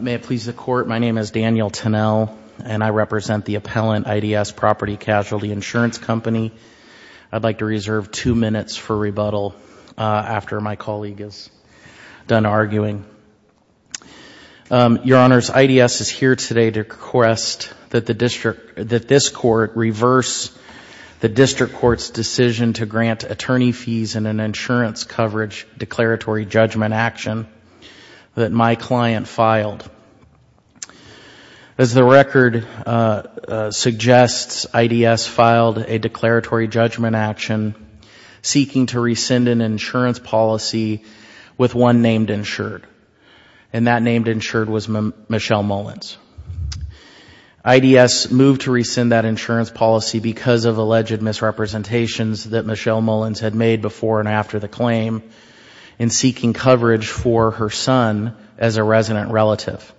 May it please the Court, my name is Daniel Tennell, and I represent the appellant IDS Property Casualty Insurance Company. I'd like to reserve two minutes for rebuttal after my colleague is done arguing. Your Honors, IDS is here today to request that this Court reverse the District Court's decision to grant attorney fees in an insurance coverage declaratory judgment action that my client filed. As the record suggests, IDS filed a declaratory judgment action seeking to rescind an insurance policy with one named insured, and that named insured was Michelle Mullins. IDS moved to rescind that insurance policy because of alleged misrepresentations that Michelle Mullins had made before and after the claim in seeking coverage for her son as a resident relative.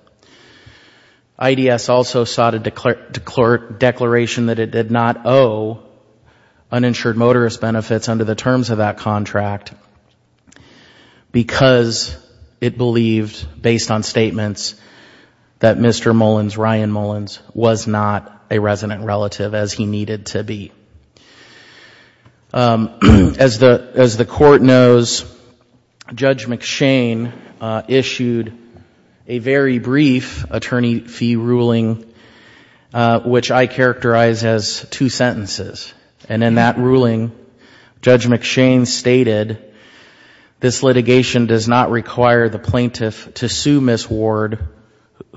IDS also sought a declaration that it did not owe uninsured motorist benefits under the terms of that contract because it believed, based on statements, that Mr. Mullins, Ryan Mullins, was not a resident relative as he needed to be. As the Court knows, Judge McShane issued a very brief attorney fee ruling which I characterize as two sentences. And in that ruling, Judge McShane stated, this litigation does not require the plaintiff to sue Ms. Ward,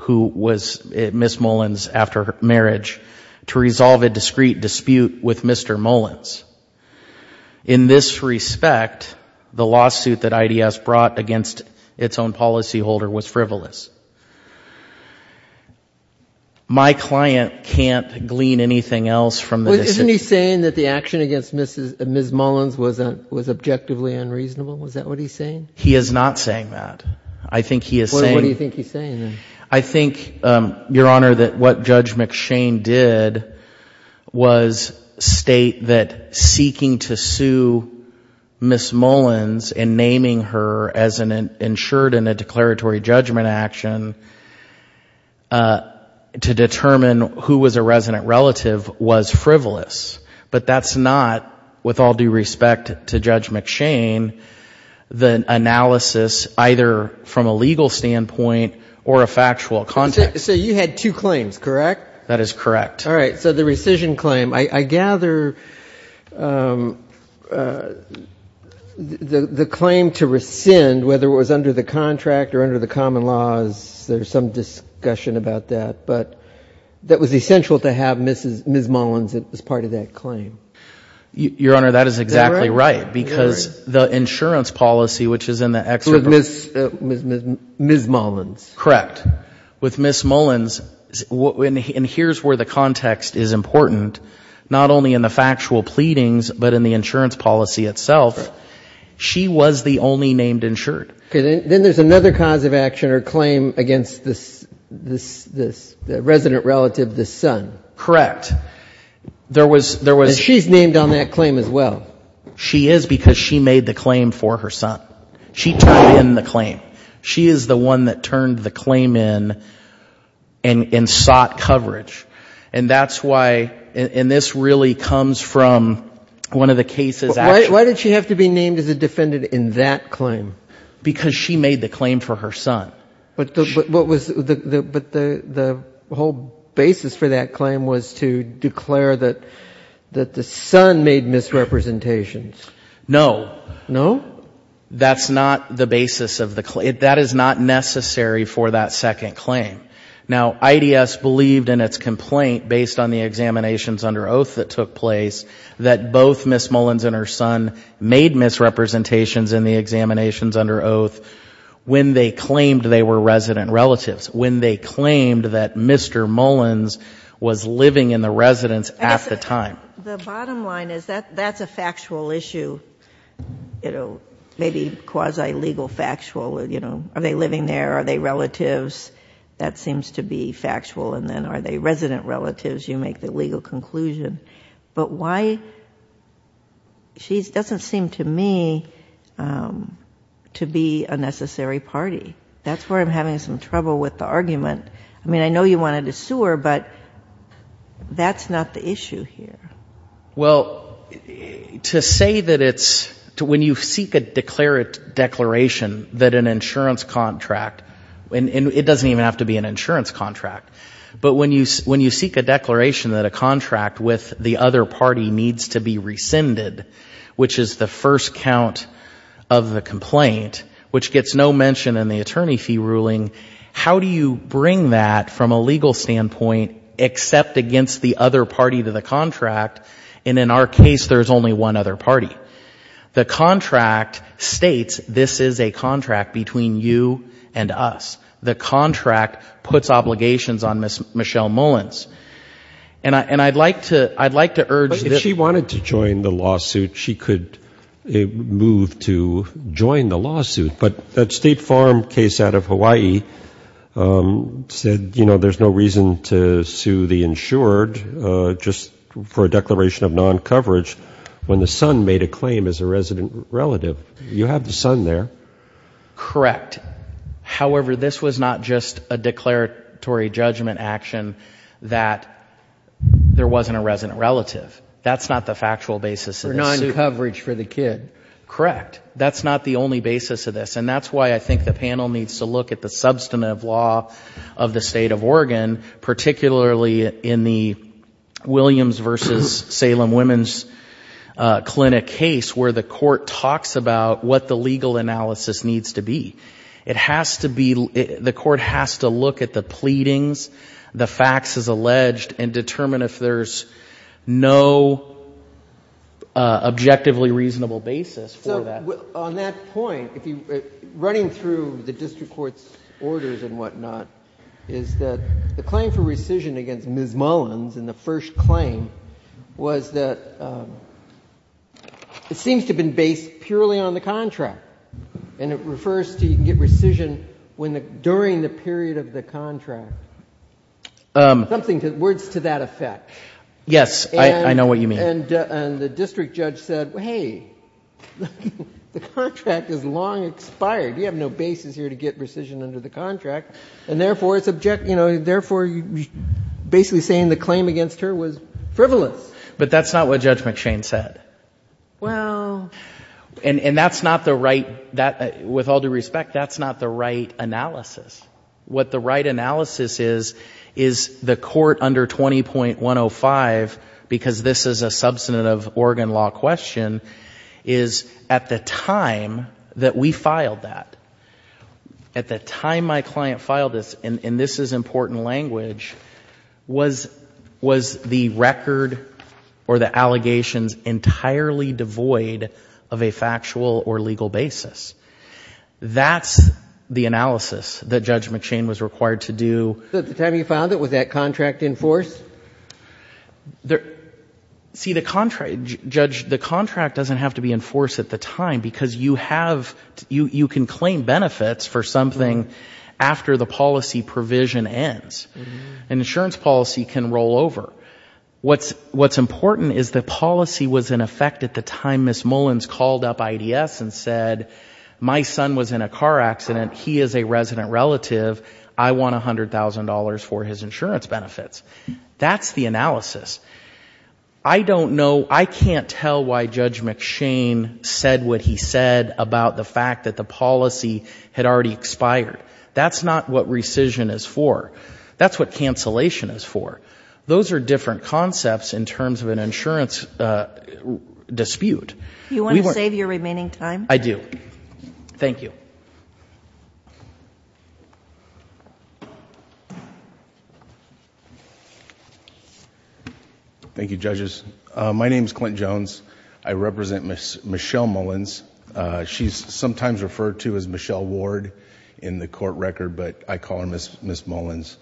who was Ms. Mullins after marriage, to resolve a discrete dispute with Mr. Mullins. In this respect, the lawsuit that IDS brought against its own policyholder was frivolous. My client can't glean anything else from this. Isn't he saying that the action against Ms. Mullins was objectively unreasonable? Is that what he's saying? He is not saying that. I think he is saying. What do you think he's saying then? I think, Your Honor, that what Judge McShane did was state that seeking to sue Ms. Mullins and naming her as insured in a declaratory judgment action to determine who was a resident relative was frivolous. But that's not, with all due respect to Judge McShane, the analysis either from a legal standpoint or a factual context. So you had two claims, correct? That is correct. All right. So the rescission claim, I gather the claim to rescind, whether it was under the contract or under the common laws, there's some discussion about that. But that was essential to have Ms. Mullins as part of that claim. Your Honor, that is exactly right. Because the insurance policy, which is in the excerpt. With Ms. Mullins. Correct. And here's where the context is important. Not only in the factual pleadings, but in the insurance policy itself, she was the only named insured. Then there's another cause of action or claim against the resident relative, the son. Correct. And she's named on that claim as well. She is because she made the claim for her son. She turned in the claim. She is the one that turned the claim in and sought coverage. And that's why, and this really comes from one of the cases. Why did she have to be named as a defendant in that claim? Because she made the claim for her son. But the whole basis for that claim was to declare that the son made misrepresentations. No. No? That's not the basis of the claim. That is not necessary for that second claim. Now, IDS believed in its complaint, based on the examinations under oath that took place, that both Ms. Mullins and her son made misrepresentations in the examinations under oath when they claimed they were resident relatives, when they claimed that Mr. Mullins was living in the residence at the time. The bottom line is that's a factual issue, maybe quasi-legal factual. Are they living there? Are they relatives? That seems to be factual. And then are they resident relatives? You make the legal conclusion. But why? She doesn't seem to me to be a necessary party. That's where I'm having some trouble with the argument. I mean, I know you wanted a sewer, but that's not the issue here. Well, to say that it's to when you seek a declaration that an insurance contract, and it doesn't even have to be an insurance contract, but when you seek a declaration that a contract with the other party needs to be rescinded, which is the first count of the complaint, which gets no mention in the attorney fee ruling, how do you bring that from a legal standpoint except against the other party to the contract? And in our case, there's only one other party. The contract states this is a contract between you and us. The contract puts obligations on Ms. Michelle Mullins. And I'd like to urge this. But if she wanted to join the lawsuit, she could move to join the lawsuit. But that State Farm case out of Hawaii said, you know, there's no reason to sue the insured just for a declaration of non-coverage when the son made a claim as a resident relative. You have the son there. Correct. However, this was not just a declaratory judgment action that there wasn't a resident relative. That's not the factual basis of this suit. For non-coverage for the kid. Correct. That's not the only basis of this. And that's why I think the panel needs to look at the substantive law of the State of Oregon, particularly in the Williams v. Salem Women's Clinic case, where the court talks about what the legal analysis needs to be. It has to be the court has to look at the pleadings, the facts as alleged, and determine if there's no objectively reasonable basis for that. So on that point, running through the district court's orders and whatnot, is that the claim for rescission against Ms. Mullins in the first claim was that it seems to have been based purely on the contract. And it refers to you can get rescission during the period of the contract. Words to that effect. Yes, I know what you mean. And the district judge said, hey, the contract is long expired. You have no basis here to get rescission under the contract. And therefore, basically saying the claim against her was frivolous. But that's not what Judge McShane said. Well. And that's not the right, with all due respect, that's not the right analysis. What the right analysis is, is the court under 20.105, because this is a substantive Oregon law question, is at the time that we filed that, at the time my client filed this, and this is important language, was the record or the allegations entirely devoid of a factual or legal basis. That's the analysis that Judge McShane was required to do. So at the time you filed it, was that contract in force? See, the contract doesn't have to be in force at the time, because you have, you can claim benefits for something after the policy provision ends. An insurance policy can roll over. What's important is the policy was in effect at the time Ms. Mullins called up IDS and said, my son was in a car accident, he is a resident relative, I want $100,000 for his insurance benefits. That's the analysis. I don't know, I can't tell why Judge McShane said what he said about the fact that the policy had already expired. That's not what rescission is for. That's what cancellation is for. Those are different concepts in terms of an insurance dispute. You want to save your remaining time? I do. Thank you. Thank you, Judges. My name is Clint Jones. I represent Ms. Michelle Mullins. She's sometimes referred to as Michelle Ward in the court record, but I call her Ms. Mullins.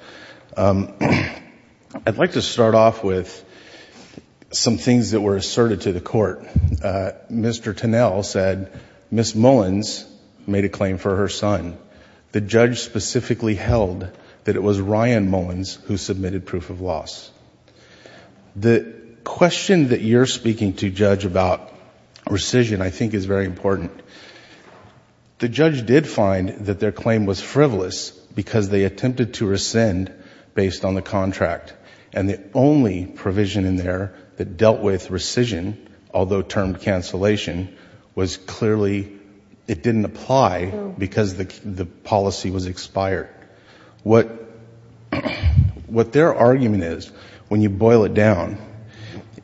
I'd like to start off with some things that were asserted to the court. Mr. Tunnell said, Ms. Mullins made a claim for her son. The judge specifically held that it was Ryan Mullins who submitted proof of loss. The question that you're speaking to, Judge, about rescission I think is very important. The judge did find that their claim was frivolous because they attempted to rescind based on the contract, and the only provision in there that dealt with rescission, although termed cancellation, was clearly it didn't apply because the policy was expired. What their argument is, when you boil it down,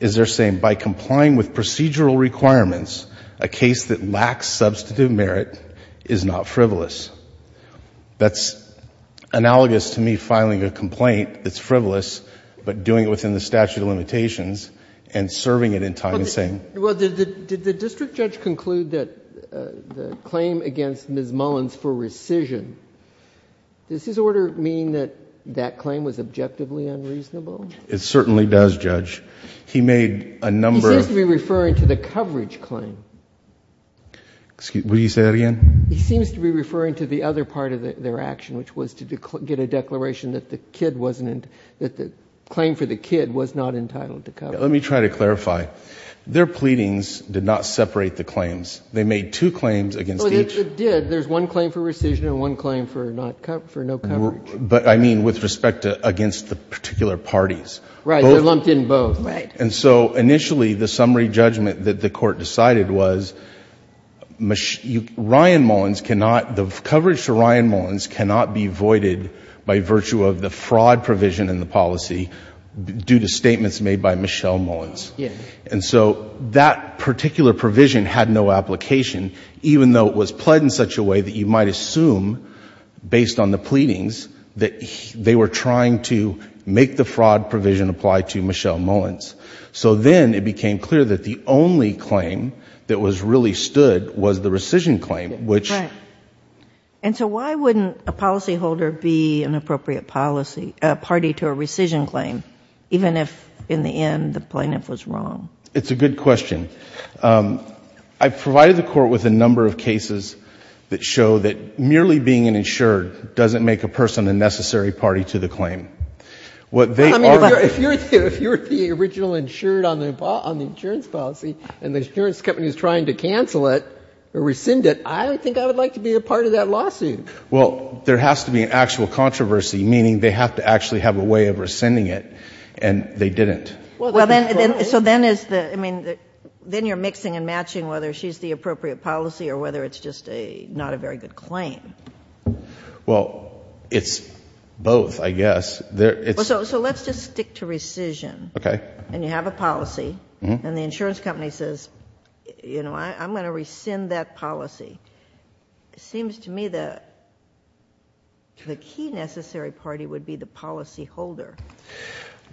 is they're saying by complying with procedural requirements, a case that lacks substantive merit is not frivolous. That's analogous to me filing a complaint that's frivolous, but doing it within the statute of limitations and serving it in time and saying... Well, did the district judge conclude that the claim against Ms. Mullins for rescission, does his order mean that that claim was objectively unreasonable? It certainly does, Judge. He made a number of... He seems to be referring to the coverage claim. Would you say that again? He seems to be referring to the other part of their action, which was to get a declaration that the claim for the kid was not entitled to coverage. Let me try to clarify. Their pleadings did not separate the claims. They made two claims against each. They did. There's one claim for rescission and one claim for no coverage. But I mean with respect to against the particular parties. Right. They're lumped in both. Right. And so initially the summary judgment that the Court decided was Ryan Mullins cannot — the coverage to Ryan Mullins cannot be voided by virtue of the fraud provision in the policy due to statements made by Michelle Mullins. Yes. And so that particular provision had no application, even though it was pled in such a way that you might assume, based on the pleadings, that they were trying to make the fraud provision apply to Michelle Mullins. So then it became clear that the only claim that really stood was the rescission claim, which... Right. And so why wouldn't a policyholder be an appropriate party to a rescission claim, even if in the end the plaintiff was wrong? It's a good question. I provided the Court with a number of cases that show that merely being an insured doesn't make a person a necessary party to the claim. What they are... I mean, if you're the original insured on the insurance policy and the insurance company is trying to cancel it or rescind it, I don't think I would like to be a part of that lawsuit. Well, there has to be an actual controversy, meaning they have to actually have a way of rescinding it, and they didn't. So then you're mixing and matching whether she's the appropriate policy or whether it's just not a very good claim. Well, it's both, I guess. So let's just stick to rescission. Okay. And you have a policy, and the insurance company says, you know, I'm going to rescind that policy. It seems to me the key necessary party would be the policyholder.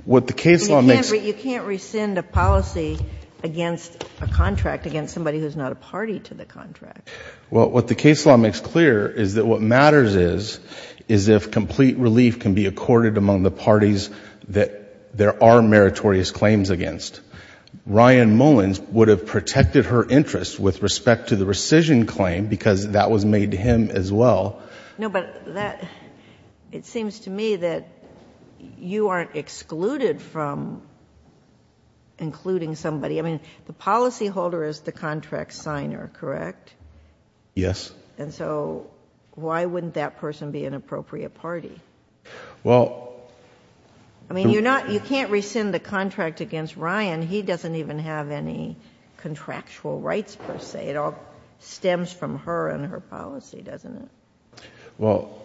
What the case law makes... You can't rescind a policy against a contract, against somebody who's not a party to the contract. Well, what the case law makes clear is that what matters is, is if complete relief can be accorded among the parties that there are meritorious claims against. Ryan Mullins would have protected her interest with respect to the rescission claim because that was made to him as well. No, but it seems to me that you aren't excluded from including somebody. I mean, the policyholder is the contract signer, correct? Yes. And so why wouldn't that person be an appropriate party? Well... I mean, you can't rescind the contract against Ryan. He doesn't even have any contractual rights, per se. It all stems from her and her policy, doesn't it? Well,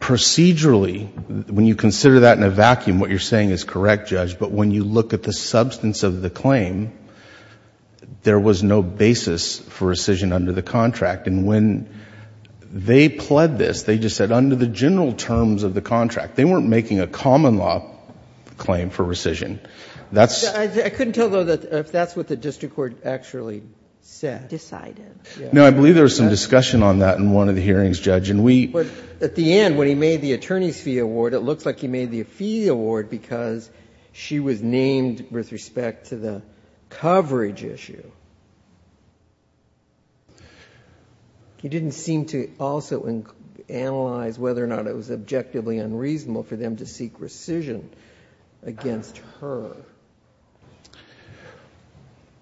procedurally, when you consider that in a vacuum, what you're saying is correct, Judge, but when you look at the substance of the claim, there was no basis for rescission under the contract. And when they pled this, they just said under the general terms of the contract. They weren't making a common law claim for rescission. That's... I couldn't tell, though, if that's what the district court actually said. No, I believe there was some discussion on that in one of the hearings, Judge, and we... But at the end, when he made the attorney's fee award, it looks like he made the fee award because she was named with respect to the coverage issue. He didn't seem to also analyze whether or not it was objectively unreasonable for them to seek rescission against her.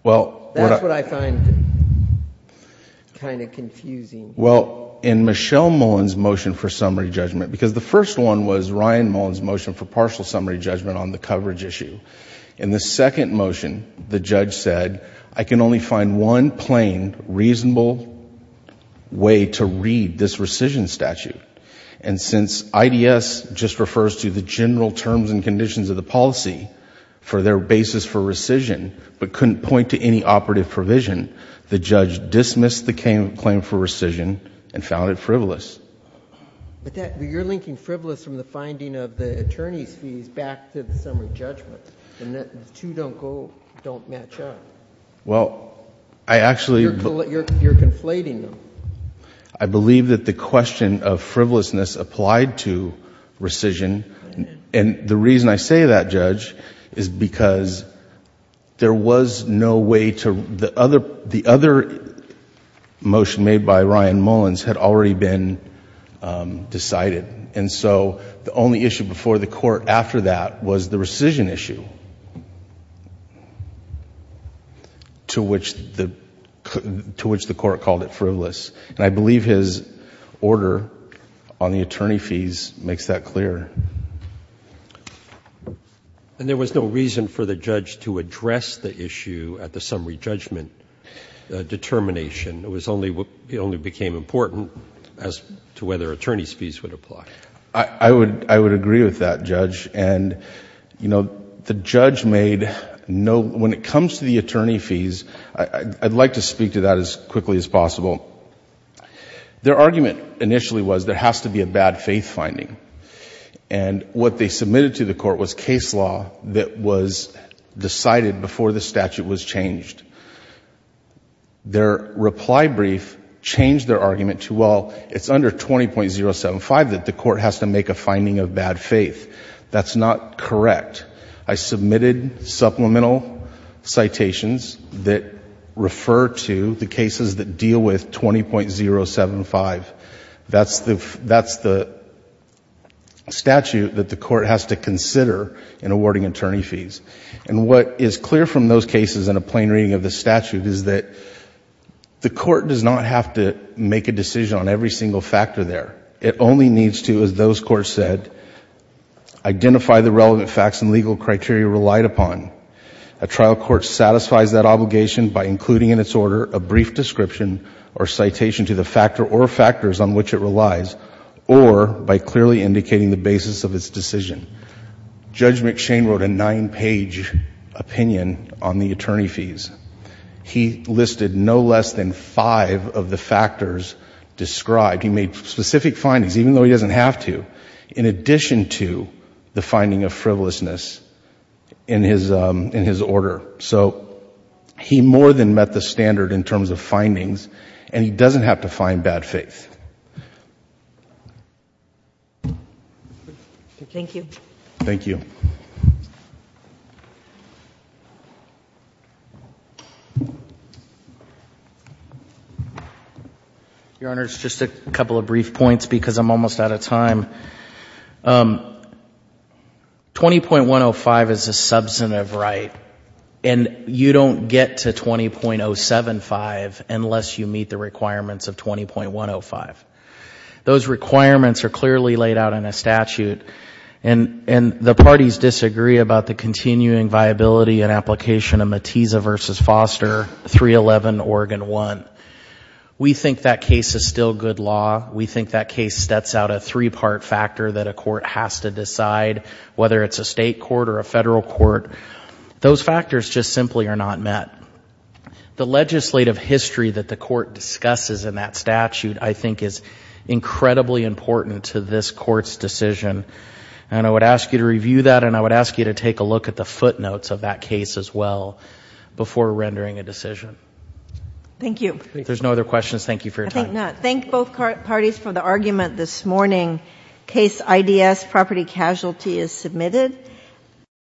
Well... That's what I find kind of confusing. Well, in Michelle Mullen's motion for summary judgment, because the first one was Ryan Mullen's motion for partial summary judgment on the coverage issue. In the second motion, the judge said, I can only find one plain, reasonable way to read this rescission statute. And since IDS just refers to the general terms and conditions of the policy for their basis for rescission, but couldn't point to any operative provision, the judge dismissed the claim for rescission and found it frivolous. But you're linking frivolous from the finding of the attorney's fees back to the summary judgment, and the two don't go... don't match up. Well, I actually... You're conflating them. I believe that the question of frivolousness applied to rescission. And the reason I say that, Judge, is because there was no way to... the other motion made by Ryan Mullen's had already been decided, and so the only issue before the court after that was the rescission issue, to which the court called it frivolous. And I believe his order on the attorney fees makes that clear. And there was no reason for the judge to address the issue at the summary judgment determination. It was only... it only became important as to whether attorney's fees would apply. I would agree with that, Judge. And, you know, the judge made no... when it comes to the attorney fees, I'd like to speak to that as quickly as possible. Their argument initially was there has to be a bad faith finding. And what they submitted to the court was case law that was decided before the statute was changed. Their reply brief changed their argument to, well, it's under 20.075 that the court has to make a finding of bad faith. That's not correct. I submitted supplemental citations that refer to the cases that deal with 20.075. That's the statute that the court has to consider in awarding attorney fees. And what is clear from those cases in a plain reading of the statute is that the court does not have to make a decision on every single factor there. It only needs to, as those courts said, identify the relevant facts and legal criteria relied upon. A trial court satisfies that obligation by including in its order a brief description or citation to the factor or factors on which it relies or by clearly indicating the basis of its decision. Judge McShane wrote a nine-page opinion on the attorney fees. He listed no less than five of the factors described. He made specific findings, even though he doesn't have to, in addition to the finding of frivolousness in his order. So he more than met the standard in terms of findings, and he doesn't have to find bad faith. Thank you. Thank you. Your Honor, just a couple of brief points because I'm almost out of time. 20.105 is a substantive right, and you don't get to 20.075 unless you meet the requirements of 20.105. Those requirements are clearly laid out in a statute, and the parties disagree about the continuing viability and application of Matiza v. Foster, 311 Oregon 1. We think that case is still good law. We think that case sets out a three-part factor that a court has to decide, whether it's a state court or a federal court. Those factors just simply are not met. The legislative history that the court discusses in that statute I think is incredibly important to this court's decision, and I would ask you to review that, and I would ask you to take a look at the footnotes of that case as well before rendering a decision. Thank you. If there's no other questions, thank you for your time.